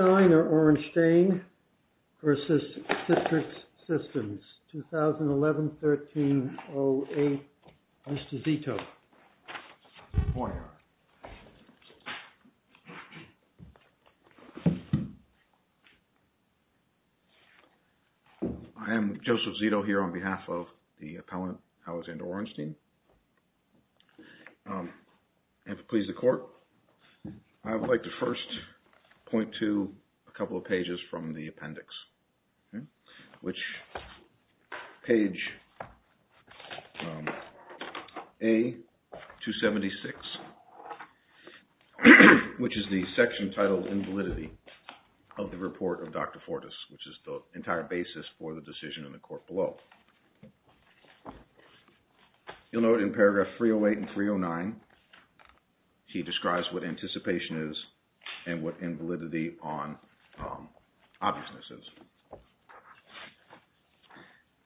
Alexander Orenstein v. CITRIX SYSTEMS 2011-13-08 Mr. Zito. Good morning, Your Honor. I am Joseph Zito here on behalf of the appellant Alexander Orenstein. If it pleases the court, I would like to first point to a couple of pages from the appendix. Page A-276, which is the section titled Invalidity of the Report of Dr. Fortas, which is the entire basis for the decision in the court below. You'll note in paragraph 308 and 309 he describes what anticipation is and what invalidity on obviousness is.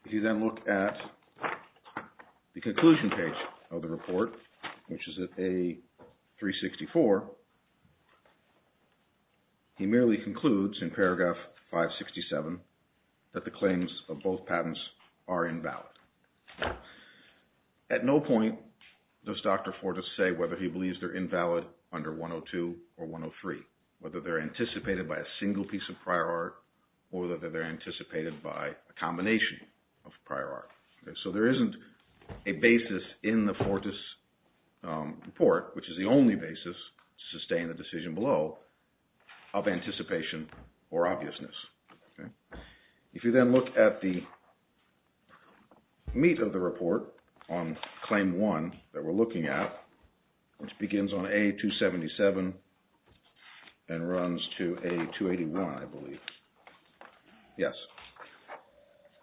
If you then look at the conclusion page of the report, which is at A-364, he merely concludes in paragraph 567 that the claims of both patents are invalid. At no point does Dr. Fortas say whether he believes they're invalid under 102 or 103, whether they're anticipated by a single piece of prior art or whether they're anticipated by a combination of prior art. So there isn't a basis in the Fortas report, which is the only basis to sustain a decision below, of anticipation or obviousness. If you then look at the meat of the report on Claim 1 that we're looking at, which begins on A-277 and runs to A-281, I believe. Yes.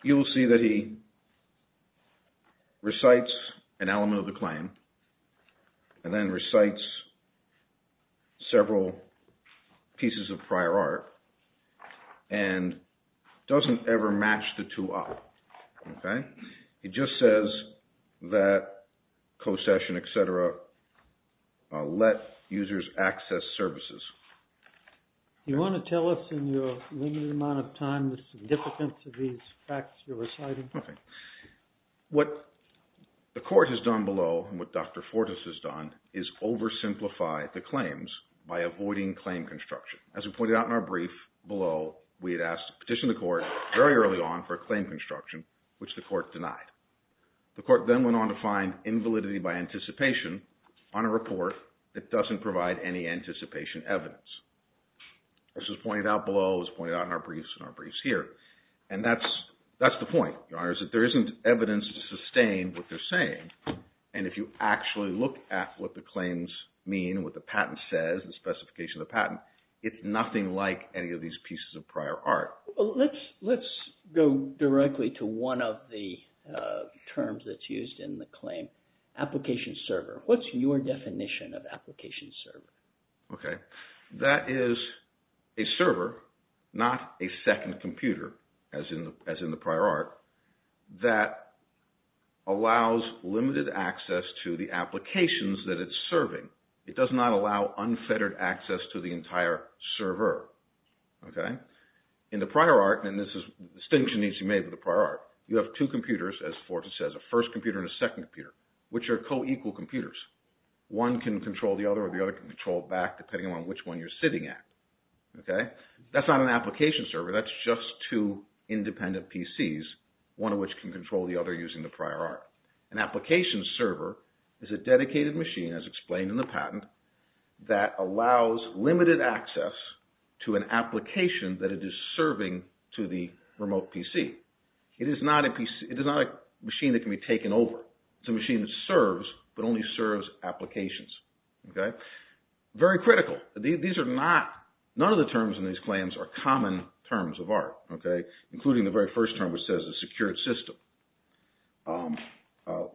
You will see that he recites an element of the claim and then recites several pieces of prior art and doesn't ever match the two up. He just says that co-cession, et cetera, let users access services. You want to tell us in your limited amount of time the significance of these facts you're reciting? Okay. What the court has done below and what Dr. Fortas has done is oversimplify the claims by avoiding claim construction. As we pointed out in our brief below, we had petitioned the court very early on for a claim construction, which the court denied. The court then went on to find invalidity by anticipation on a report that doesn't provide any anticipation evidence. This was pointed out below. It was pointed out in our briefs here. And that's the point, Your Honor, is that there isn't evidence to sustain what they're saying. And if you actually look at what the claims mean, what the patent says, the specification of the patent, it's nothing like any of these pieces of prior art. Let's go directly to one of the terms that's used in the claim, application server. What's your definition of application server? Okay. That is a server, not a second computer, as in the prior art, that allows limited access to the applications that it's serving. It does not allow unfettered access to the entire server. In the prior art, and this distinction needs to be made with the prior art, you have two computers, as Forten says, a first computer and a second computer, which are co-equal computers. One can control the other or the other can control it back depending on which one you're sitting at. That's not an application server. That's just two independent PCs, one of which can control the other using the prior art. An application server is a dedicated machine, as explained in the patent, that allows limited access to an application that it is serving to the remote PC. It is not a machine that can be taken over. It's a machine that serves, but only serves applications. Very critical. These are not, none of the terms in these claims are common terms of art, including the very first term, which says a secured system.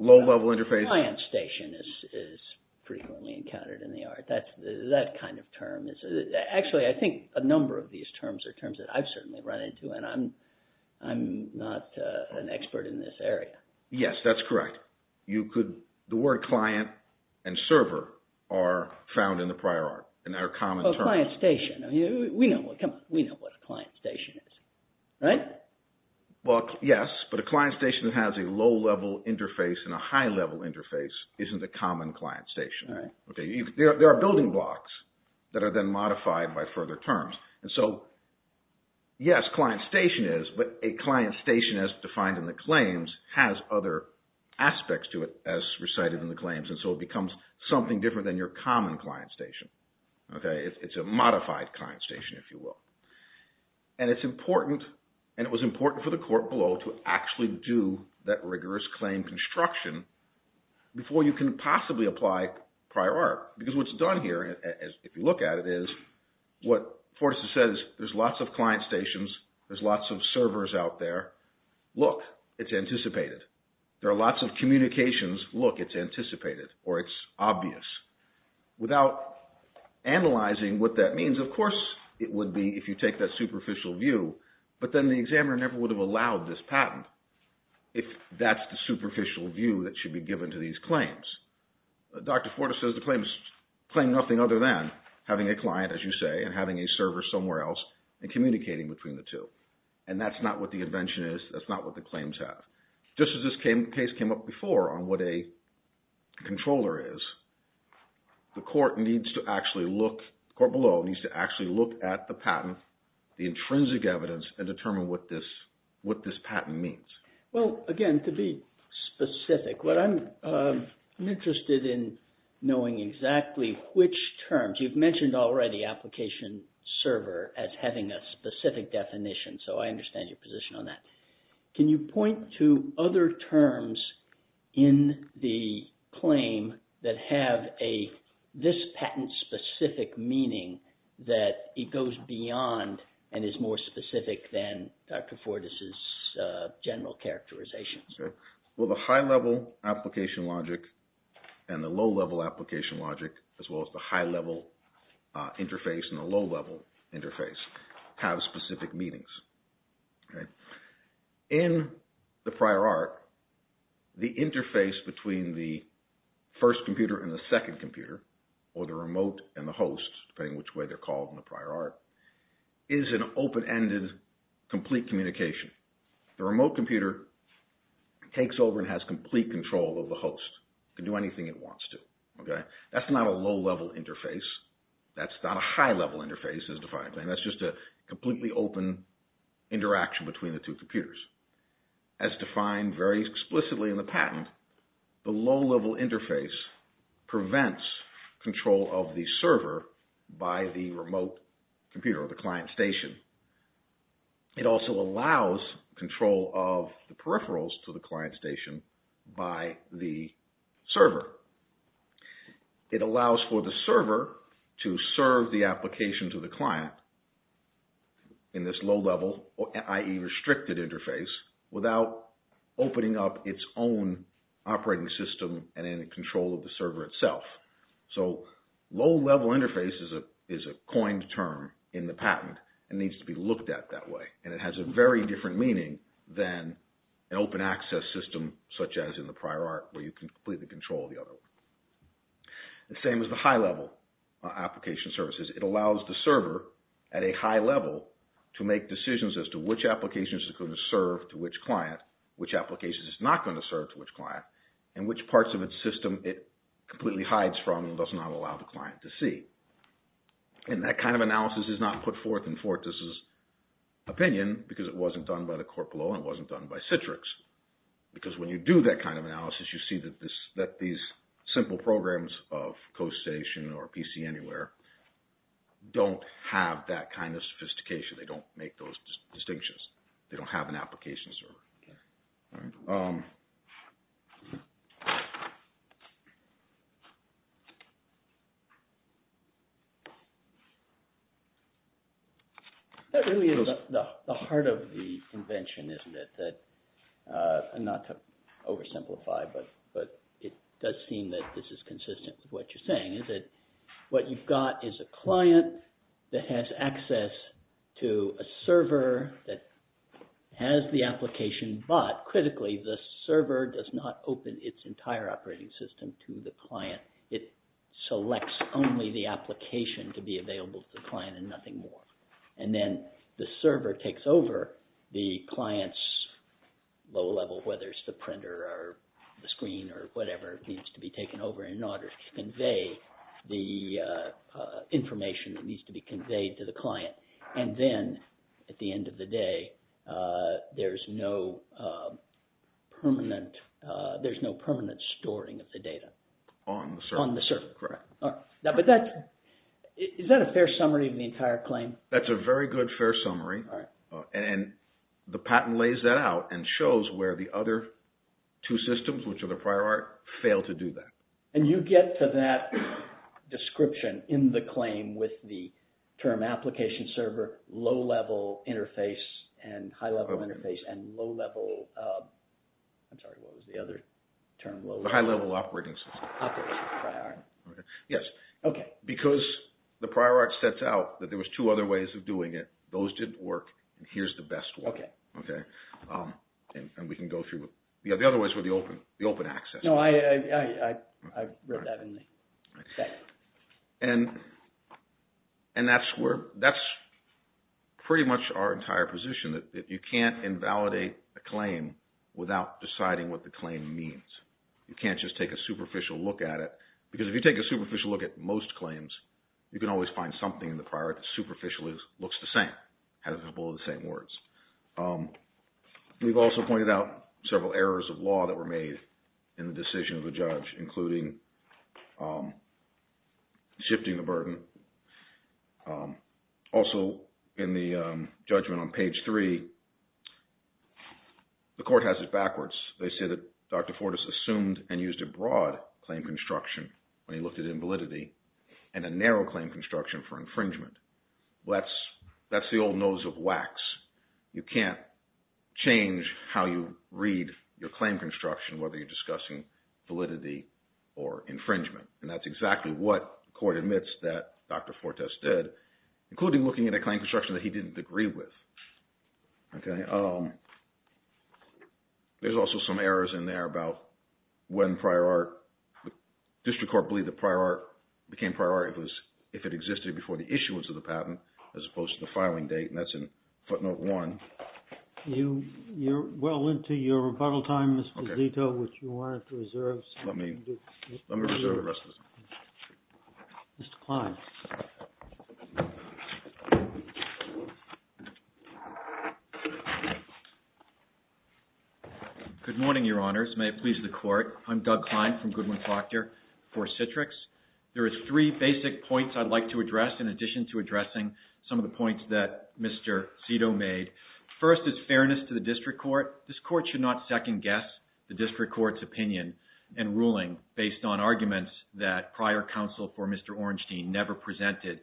Low-level interface. A client station is frequently encountered in the art. That kind of term. Actually, I think a number of these terms are terms that I've certainly run into, and I'm not an expert in this area. Yes, that's correct. The word client and server are found in the prior art and are common terms. A client station. We know what a client station is, right? Yes, but a client station that has a low-level interface and a high-level interface isn't a common client station. There are building blocks that are then modified by further terms. Yes, client station is, but a client station as defined in the claims has other aspects to it as recited in the claims, and so it becomes something different than your common client station. It's a modified client station, if you will. And it's important, and it was important for the court below to actually do that rigorous claim construction before you can possibly apply prior art. Because what's done here, if you look at it, is what Fortas has said is there's lots of client stations, there's lots of servers out there. Look, it's anticipated. There are lots of communications. Look, it's anticipated, or it's obvious. Without analyzing what that means, of course it would be if you take that superficial view, but then the examiner never would have allowed this patent if that's the superficial view that should be given to these claims. Dr. Fortas says the claims claim nothing other than having a client, as you say, and having a server somewhere else and communicating between the two. And that's not what the invention is. That's not what the claims have. Just as this case came up before on what a controller is, the court below needs to actually look at the patent, the intrinsic evidence, and determine what this patent means. Well, again, to be specific, I'm interested in knowing exactly which terms. You've mentioned already application server as having a specific definition, so I understand your position on that. Can you point to other terms in the claim that have this patent-specific meaning that it goes beyond and is more specific than Dr. Fortas' general characterization? Well, the high-level application logic and the low-level application logic, as well as the high-level interface and the low-level interface, have specific meanings. In the prior art, the interface between the first computer and the second computer, or the remote and the host, depending on which way they're called in the prior art, is an open-ended, complete communication. The remote computer takes over and has complete control of the host. It can do anything it wants to. That's not a low-level interface. That's not a high-level interface as defined. That's just a completely open interaction between the two computers. As defined very explicitly in the patent, the low-level interface prevents control of the server by the remote computer or the client station. It also allows control of the peripherals to the client station by the server. It allows for the server to serve the application to the client in this low-level, i.e., restricted interface, without opening up its own operating system and any control of the server itself. Low-level interface is a coined term in the patent and needs to be looked at that way. It has a very different meaning than an open access system, such as in the prior art, where you can completely control the other one. The same as the high-level application services, it allows the server at a high level to make decisions as to which applications it's going to serve to which client, which applications it's not going to serve to which client, and which parts of its system it completely hides from and does not allow the client to see. And that kind of analysis is not put forth in Fortis's opinion because it wasn't done by the corpolo and it wasn't done by Citrix. Because when you do that kind of analysis, you see that these simple programs of Coast Station or PC Anywhere don't have that kind of sophistication. They don't make those distinctions. They don't have an application server. All right. That really is the heart of the invention, isn't it? Not to oversimplify, but it does seem that this is consistent with what you're saying. What you've got is a client that has access to a server that has the application, but critically, the server does not open its entire operating system to the client. It selects only the application to be available to the client and nothing more. And then the server takes over the client's low-level, whether it's the printer or the screen or whatever needs to be taken over in order to convey the information that needs to be conveyed to the client. And then at the end of the day, there's no permanent storing of the data. On the server. On the server. Correct. Is that a fair summary of the entire claim? That's a very good, fair summary. All right. And the patent lays that out and shows where the other two systems, which are the prior art, fail to do that. And you get to that description in the claim with the term application server, low-level interface and high-level interface and low-level, I'm sorry, what was the other term? The high-level operating system. Yes. Okay. Because the prior art sets out that there was two other ways of doing it. Those didn't work. And here's the best one. Okay. Okay. And we can go through. The other ways were the open access. No, I read that in the text. And that's pretty much our entire position, that you can't invalidate a claim without deciding what the claim means. You can't just take a superficial look at it. Because if you take a superficial look at most claims, you can always find something in the prior art that superficially looks the same, has a couple of the same words. We've also pointed out several errors of law that were made in the decision of the judge, including shifting the burden. Also, in the judgment on page three, the court has it backwards. They say that Dr. Fortas assumed and used a broad claim construction when he looked at invalidity and a narrow claim construction for infringement. Well, that's the old nose of wax. You can't change how you read your claim construction, whether you're discussing validity or infringement. And that's exactly what the court admits that Dr. Fortas did, including looking at a claim construction that he didn't agree with. Okay. There's also some errors in there about when prior art. The district court believed that prior art became prior art if it existed before the issuance of the patent, as opposed to the filing date. And that's in footnote one. You're well into your rebuttal time, Mr. Zito, which you wanted to reserve. Let me reserve the rest of this. Mr. Klein. Good morning, Your Honors. May it please the court. I'm Doug Klein from Goodwin-Fochter for Citrix. There are three basic points I'd like to address, in addition to addressing some of the points that Mr. Zito made. First is fairness to the district court. This court should not second-guess the district court's opinion and ruling based on arguments that prior counsel for Mr. Ornstein never presented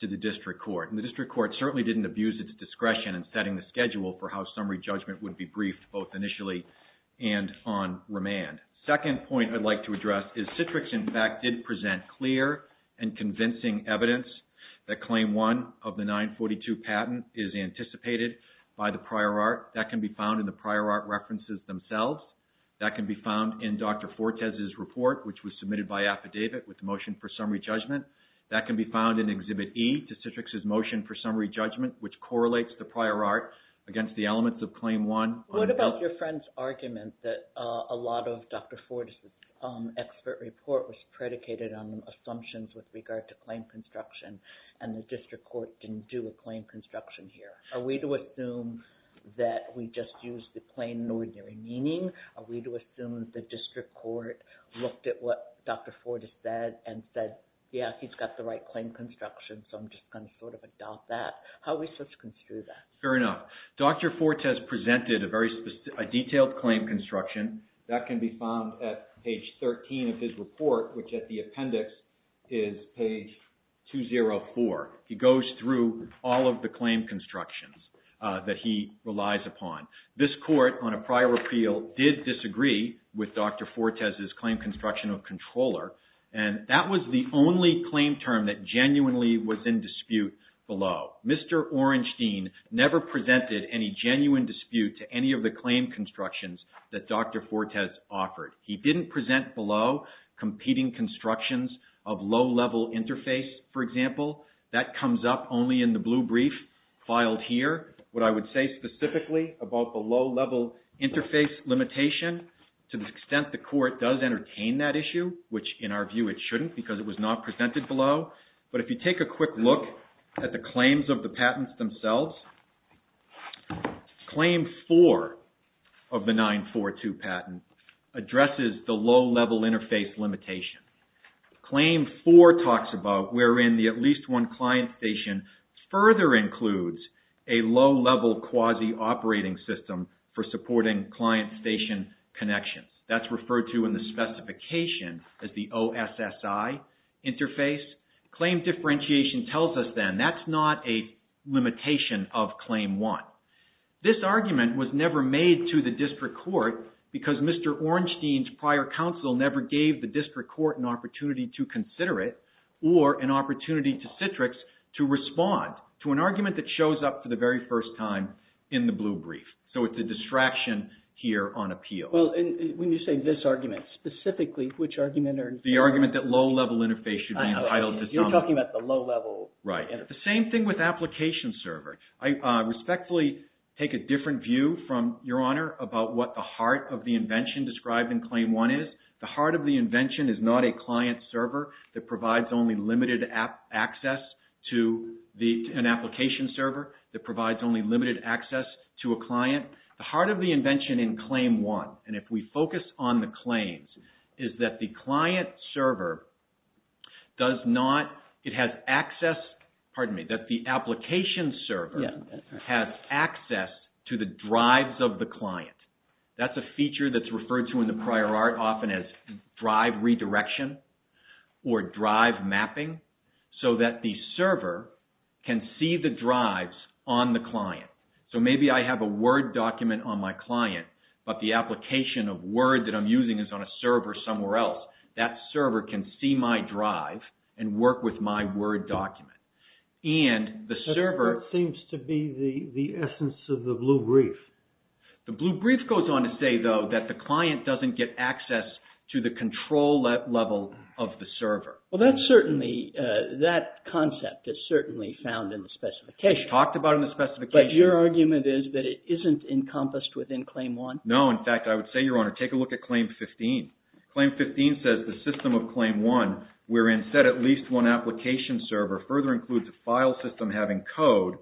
to the district court. And the district court certainly didn't abuse its discretion in setting the schedule for how summary judgment would be briefed, both initially and on remand. Second point I'd like to address is Citrix, in fact, did present clear and convincing evidence that Claim 1 of the 942 patent is anticipated by the prior art. That can be found in the prior art references themselves. That can be found in Dr. Fortes' report, which was submitted by affidavit with a motion for summary judgment. That can be found in Exhibit E to Citrix's motion for summary judgment, which correlates the prior art against the elements of Claim 1. What about your friend's argument that a lot of Dr. Fortes' expert report was predicated on assumptions with regard to claim construction, and the district court didn't do a claim construction here? Are we to assume that we just used the plain and ordinary meaning? Are we to assume that the district court looked at what Dr. Fortes said and said, yeah, he's got the right claim construction, so I'm just going to sort of adopt that? How are we supposed to construe that? Fair enough. Dr. Fortes presented a detailed claim construction. That can be found at page 13 of his report, which at the appendix is page 204. He goes through all of the claim constructions that he relies upon. This court, on a prior appeal, did disagree with Dr. Fortes' claim construction of controller, and that was the only claim term that genuinely was in dispute below. Mr. Orenstein never presented any genuine dispute to any of the claim constructions that Dr. Fortes offered. He didn't present below competing constructions of low-level interface, for example. That comes up only in the blue brief filed here. What I would say specifically about the low-level interface limitation, to the extent the court does entertain that issue, which in our view it shouldn't because it was not presented below. But if you take a quick look at the claims of the patents themselves, claim four of the 942 patent addresses the low-level interface limitation. Claim four talks about where in the at least one client station further includes a low-level quasi-operating system for supporting client station connections. That's referred to in the specification as the OSSI interface. Claim differentiation tells us then that's not a limitation of claim one. This argument was never made to the district court because Mr. Orenstein's prior counsel never gave the district court an opportunity to consider it or an opportunity to Citrix to respond to an argument that shows up for the very first time in the blue brief. So it's a distraction here on appeal. Well, when you say this argument, specifically, which argument are you referring to? The argument that low-level interface should be entitled to some... You're talking about the low-level interface. Right. The same thing with application server. I respectfully take a different view from Your Honor about what the heart of the invention described in claim one is. The heart of the invention is not a client server that provides only limited access to an application server that provides only limited access to a client. The heart of the invention in claim one, and if we focus on the claims, is that the client server does not... It has access... Pardon me. That the application server has access to the drives of the client. That's a feature that's referred to in the prior art often as drive redirection or drive mapping so that the server can see the drives on the client. So maybe I have a Word document on my client, but the application of Word that I'm using is on a server somewhere else. That server can see my drive and work with my Word document. And the server... That seems to be the essence of the blue brief. The blue brief goes on to say, though, that the client doesn't get access to the control level of the server. Well, that's certainly... that concept is certainly found in the specification. It's talked about in the specification. But your argument is that it isn't encompassed within claim one? No. In fact, I would say, Your Honor, take a look at claim 15. Claim 15 says the system of claim one wherein set at least one application server further includes a file system having code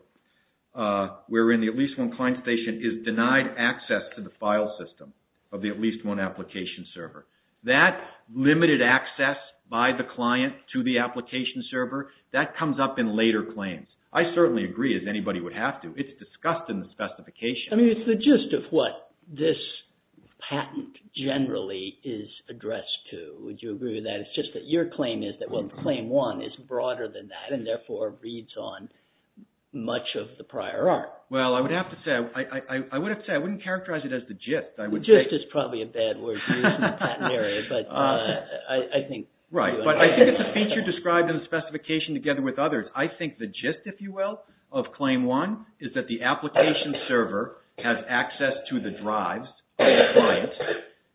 wherein the at least one client station is denied access to the file system of the at least one application server. That limited access by the client to the application server, that comes up in later claims. I certainly agree, as anybody would have to. It's discussed in the specification. I mean, it's the gist of what this patent generally is addressed to. Would you agree with that? It's just that your claim is that, well, claim one is broader than that and therefore reads on much of the prior art. Well, I would have to say, I wouldn't characterize it as the gist. The gist is probably a bad word to use in the patent area, but I think... Right. But I think it's a feature described in the specification together with others. I think the gist, if you will, of claim one is that the application server has access to the drives of the client.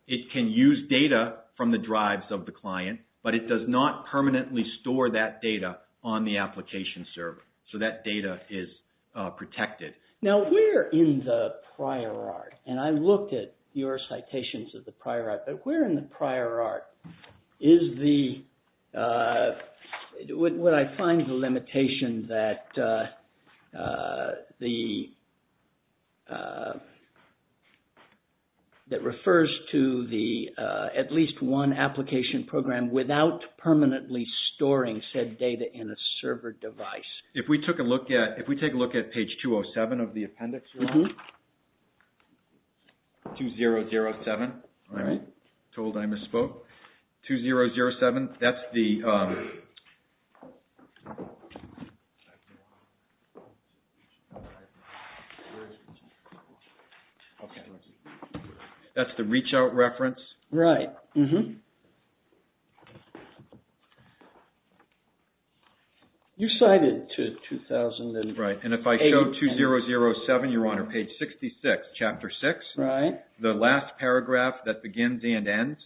It can use data from the drives of the client, but it does not permanently store that data on the application server. So that data is protected. Now, where in the prior art, and I looked at your citations of the prior art, but where in the prior art is the... would I find the limitation that the... that refers to the at least one application program without permanently storing said data in a server device? If we took a look at, if we take a look at page 207 of the appendix. 2007. I'm told I misspoke. 2007, that's the... That's the reach out reference. Right. Mm-hmm. You cited 2008... Right, and if I show 2007, Your Honor, page 66, chapter 6. Right. The last paragraph that begins and ends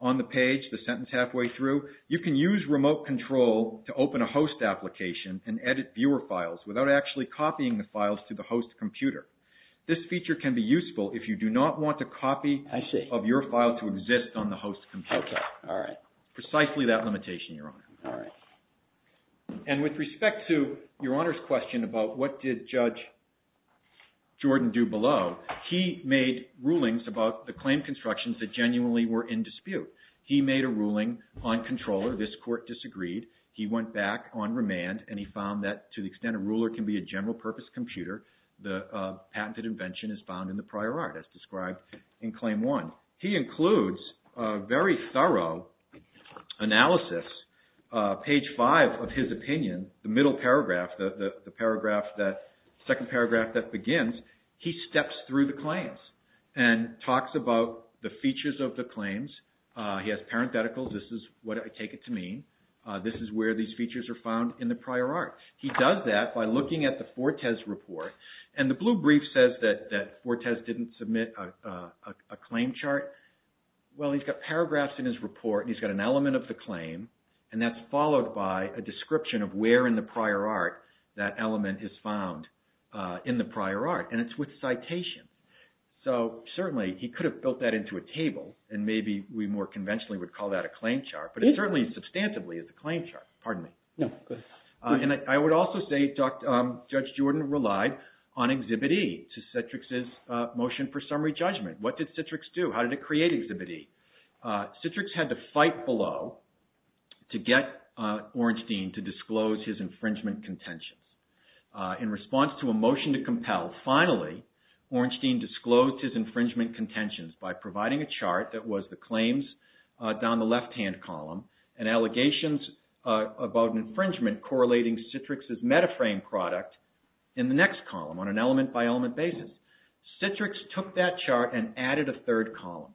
on the page, the sentence halfway through. You can use remote control to open a host application and edit viewer files without actually copying the files to the host computer. This feature can be useful if you do not want a copy... I see. ...of your file to exist on the host computer. Okay, all right. Precisely that limitation, Your Honor. All right. And with respect to Your Honor's question about what did Judge Jordan do below, he made rulings about the claim constructions that genuinely were in dispute. He made a ruling on controller. This court disagreed. He went back on remand, and he found that to the extent a ruler can be a general purpose computer, the patented invention is found in the prior art, as described in Claim 1. He includes a very thorough analysis, page 5 of his opinion, the middle paragraph, the second paragraph that begins. He steps through the claims and talks about the features of the claims. He has parentheticals. This is what I take it to mean. This is where these features are found in the prior art. He does that by looking at the Fortes report, and the blue brief says that Fortes didn't submit a claim chart. Well, he's got paragraphs in his report, and he's got an element of the claim, and that's followed by a description of where in the prior art that element is found in the prior art, and it's with citation. So certainly he could have built that into a table, and maybe we more conventionally would call that a claim chart, but it certainly substantively is a claim chart. Pardon me. No, go ahead. I would also say Judge Jordan relied on Exhibit E to Citrix's motion for summary judgment. What did Citrix do? How did it create Exhibit E? Citrix had to fight below to get Ornstein to disclose his infringement contentions. In response to a motion to compel, finally Ornstein disclosed his infringement contentions by providing a chart that was the claims down the left-hand column and allegations about an infringement correlating Citrix's metaframe product in the next column on an element-by-element basis. Citrix took that chart and added a third column,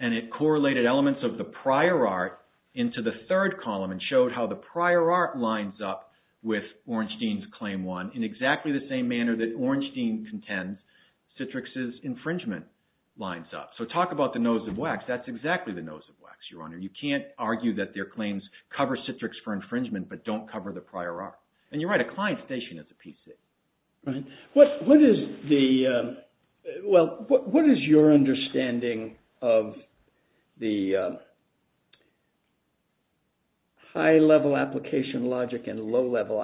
and it correlated elements of the prior art into the third column and showed how the prior art lines up with Ornstein's Claim 1 in exactly the same manner that Ornstein contends Citrix's infringement lines up. So talk about the nose of wax. That's exactly the nose of wax, Your Honor. You can't argue that their claims cover Citrix for infringement but don't cover the prior art. And you're right, a client station is a piece of it. Right. What is the – well, what is your understanding of the high-level application logic and low-level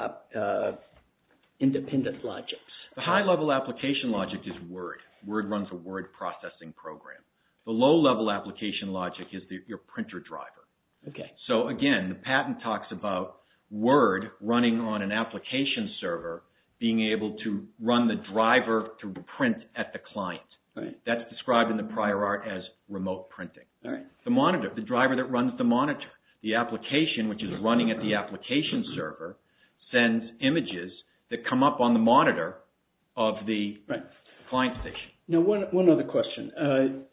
independent logics? The high-level application logic is Word. Word runs a word processing program. The low-level application logic is your printer driver. Okay. So, again, the patent talks about Word running on an application server being able to run the driver to print at the client. Right. That's described in the prior art as remote printing. All right. The monitor, the driver that runs the monitor, the application, which is running at the application server, sends images that come up on the monitor of the client station. Right. Now, one other question.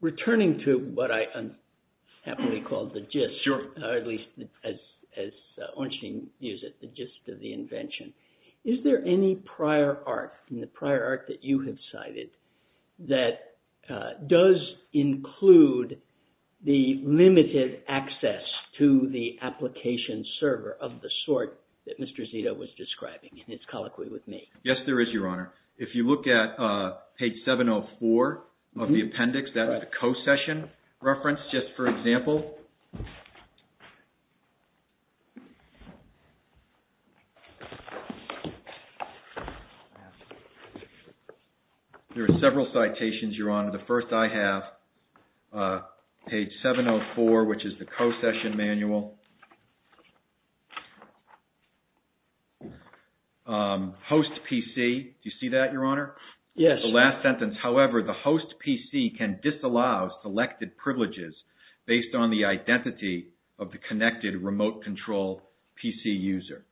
Returning to what I happily call the gist, at least as Ornstein used it, the gist of the invention, is there any prior art in the prior art that you have cited that does include the limited access to the application server of the sort that Mr. Zito was describing? And it's colloquy with me. Yes, there is, Your Honor. If you look at page 704 of the appendix, that was a co-session reference, just for example. There are several citations, Your Honor. The first I have, page 704, which is the co-session manual. Host PC, do you see that, Your Honor? Yes. The last sentence, however, the host PC can disallow selected privileges based on the identity of the connected remote control PC user.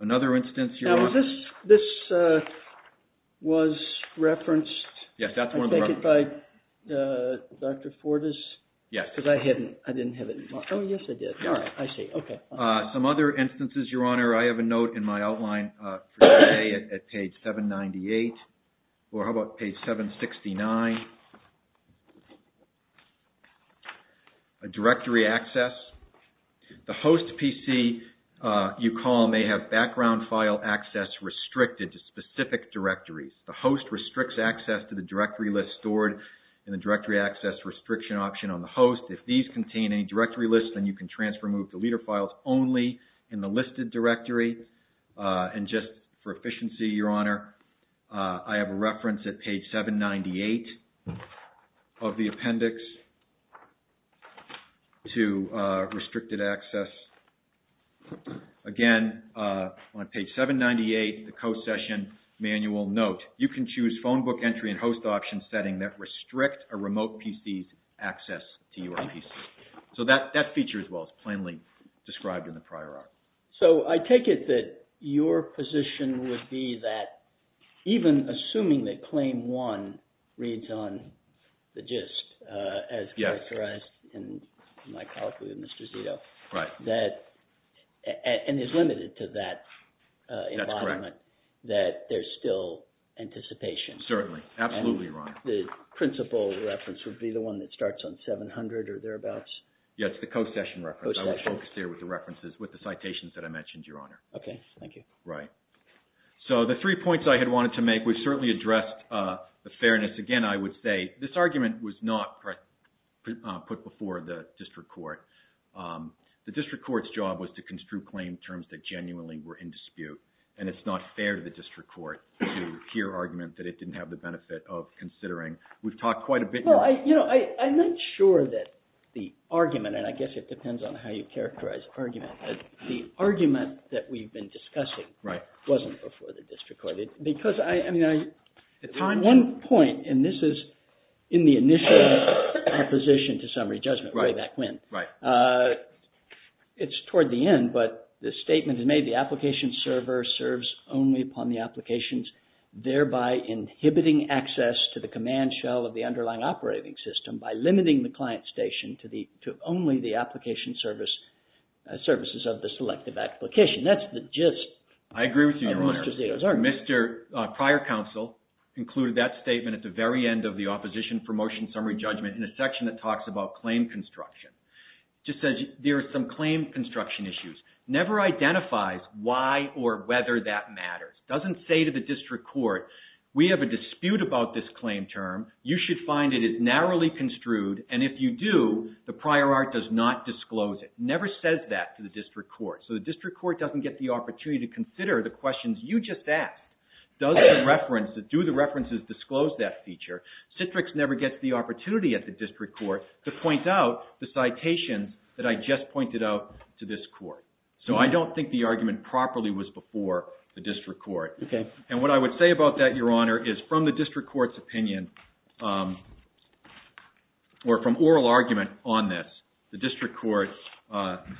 Another instance, Your Honor? Now, this was referenced, I think, by Dr. Fortas. Yes. Because I didn't have it in my, oh, yes, I did. All right. I see. Okay. Some other instances, Your Honor, I have a note in my outline for today at page 798, or how about page 769? A directory access. The host PC you call may have background file access restricted to specific directories. The host restricts access to the directory list stored in the directory access restriction option on the host. If these contain any directory lists, then you can transfer and move the leader files only in the listed directory. And just for efficiency, Your Honor, I have a reference at page 798 of the appendix to restricted access. Again, on page 798, the co-session manual note, you can choose phone book entry and host option setting that restrict a remote PC's access to your PC. So, that feature as well is plainly described in the prior article. So, I take it that your position would be that even assuming that claim one reads on the gist as characterized in my copy of Mr. Zito. Right. And is limited to that environment. That's correct. That there's still anticipation. Certainly. Absolutely, Your Honor. And the principal reference would be the one that starts on 700 or thereabouts? Yeah, it's the co-session reference. Co-session. I was focused there with the references, with the citations that I mentioned, Your Honor. Okay. Thank you. Right. So, the three points I had wanted to make, we've certainly addressed the fairness. Again, I would say this argument was not put before the district court. The district court's job was to construe claim terms that genuinely were in dispute. And it's not fair to the district court to hear arguments that it didn't have the benefit of considering. We've talked quite a bit. Well, I'm not sure that the argument, and I guess it depends on how you characterize the argument. The argument that we've been discussing wasn't before the district court. At one point, and this is in the initial acquisition to summary judgment way back when. Right. It's toward the end, but the statement is made, the application server serves only upon the applications, thereby inhibiting access to the command shell of the underlying operating system by limiting the client station to only the application services of the selective application. That's the gist of Mr. Zito's argument. I agree with you, Your Honor. Mr. Zito's argument. Mr. Prior Counsel included that statement at the very end of the opposition for motion summary judgment in a section that talks about claim construction. It just says there are some claim construction issues. Never identifies why or whether that matters. Doesn't say to the district court, we have a dispute about this claim term. You should find it is narrowly construed, and if you do, the prior art does not disclose it. Never says that to the district court. So the district court doesn't get the opportunity to consider the questions you just asked. Do the references disclose that feature? Citrix never gets the opportunity at the district court to point out the citations that I just pointed out to this court. So I don't think the argument properly was before the district court. Okay. And what I would say about that, Your Honor, is from the district court's opinion, or from oral argument on this, the district court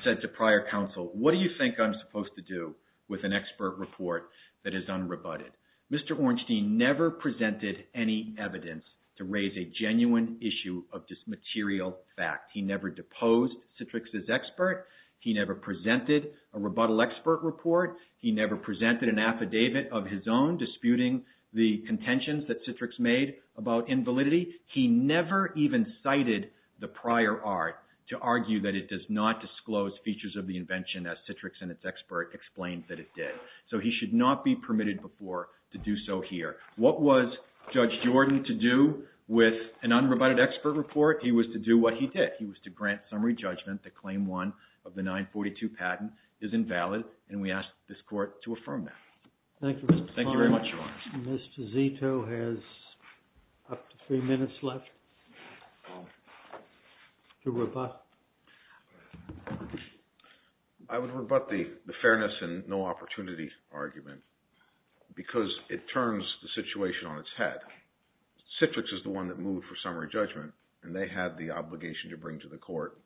said to Prior Counsel, what do you think I'm supposed to do with an expert report that is unrebutted? Mr. Ornstein never presented any evidence to raise a genuine issue of this material fact. He never deposed Citrix's expert. He never presented a rebuttal expert report. He never presented an affidavit of his own disputing the contentions that Citrix made about invalidity. He never even cited the prior art to argue that it does not disclose features of the invention as Citrix and its expert explained that it did. So he should not be permitted before to do so here. What was Judge Jordan to do with an unrebutted expert report? He was to do what he did. He was to grant summary judgment that Claim 1 of the 942 patent is invalid, and we ask this court to affirm that. Thank you, Mr. Klein. Thank you very much, Your Honor. Mr. Zito has up to three minutes left to rebut. I would rebut the fairness and no opportunity argument because it turns the situation on its head. Citrix is the one that moved for summary judgment, and they had the obligation to bring to the court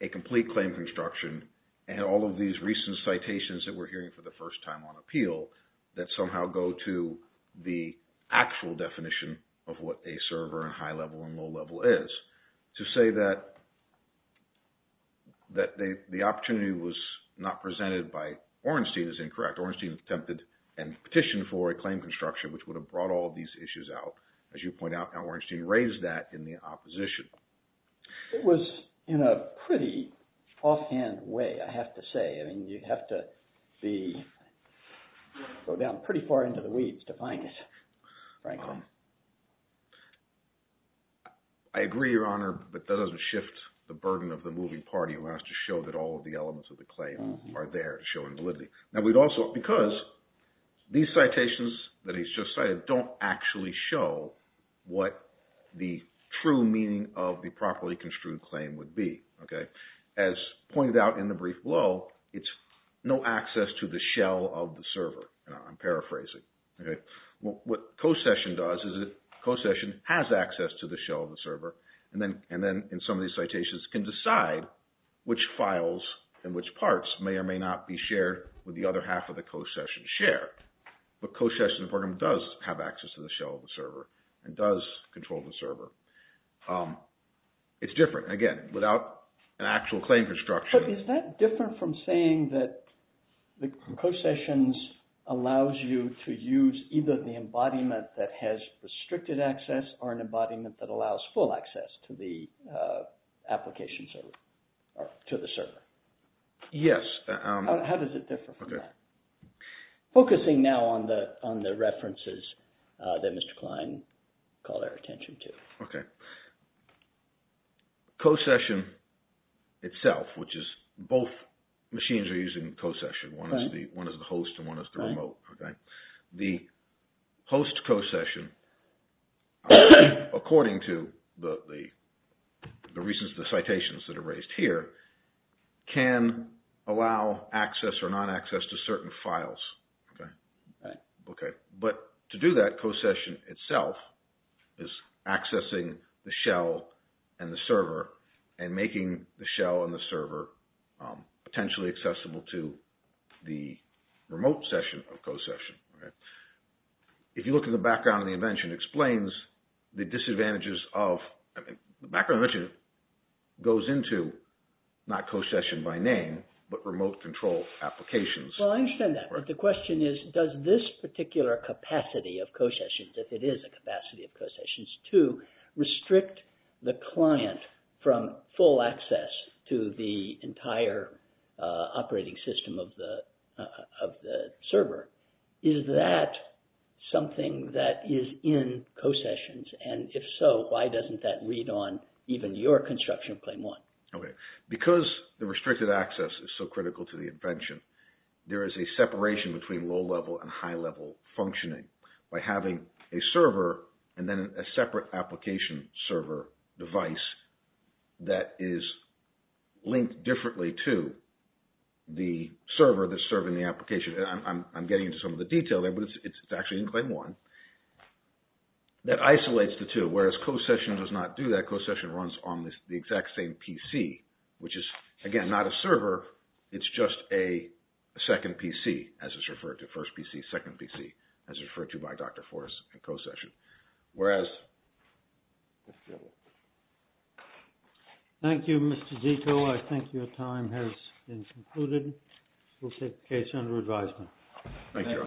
a complete claim construction and all of these recent citations that we're hearing for the first time on appeal that somehow go to the actual definition of what a server and high level and low level is. To say that the opportunity was not presented by Orenstein is incorrect. Orenstein attempted and petitioned for a claim construction, which would have brought all these issues out. As you point out, now Orenstein raised that in the opposition. It was in a pretty offhand way, I have to say. I mean you'd have to go down pretty far into the weeds to find it, Franklin. I agree, Your Honor, but that doesn't shift the burden of the moving party who has to show that all of the elements of the claim are there to show invalidity. Because these citations that he's just cited don't actually show what the true meaning of the properly construed claim would be. As pointed out in the brief below, it's no access to the shell of the server. I'm paraphrasing. What Cosession does is that Cossession has access to the shell of the server. And then in some of these citations can decide which files and which parts may or may not be shared with the other half of the Cossession share. But Cossession does have access to the shell of the server and does control the server. It's different, again, without an actual claim construction. Is that different from saying that the Cossessions allows you to use either the embodiment that has restricted access or an embodiment that allows full access to the application server or to the server? Yes. How does it differ from that? Focusing now on the references that Mr. Klein called our attention to. Cossession itself, which is both machines are using Cossession. One is the host and one is the remote. The host Cossession, according to the citations that are raised here, can allow access or non-access to certain files. But to do that, Cossession itself is accessing the shell and the server and making the shell and the server potentially accessible to the remote session of Cossession. If you look at the background of the invention, it explains the disadvantages of... The background of the invention goes into not Cossession by name, but remote control applications. Well, I understand that. But the question is, does this particular capacity of Cossessions, if it is a capacity of Cossessions, to restrict the client from full access to the entire operating system of the server? Is that something that is in Cossessions? And if so, why doesn't that read on even your construction of Claim 1? Okay. Because the restricted access is so critical to the invention, there is a separation between low-level and high-level functioning by having a server and then a separate application server device that is linked differently to the server that's serving the application. I'm getting into some of the detail there, but it's actually in Claim 1 that isolates the two. Whereas Cossession does not do that. Cossession runs on the exact same PC, which is, again, not a server. It's just a second PC, as it's referred to. First PC, second PC, as referred to by Dr. Forrest in Cossession. Whereas... Thank you, Mr. Zito. I think your time has been concluded. We'll take the case under advisement. Thank you.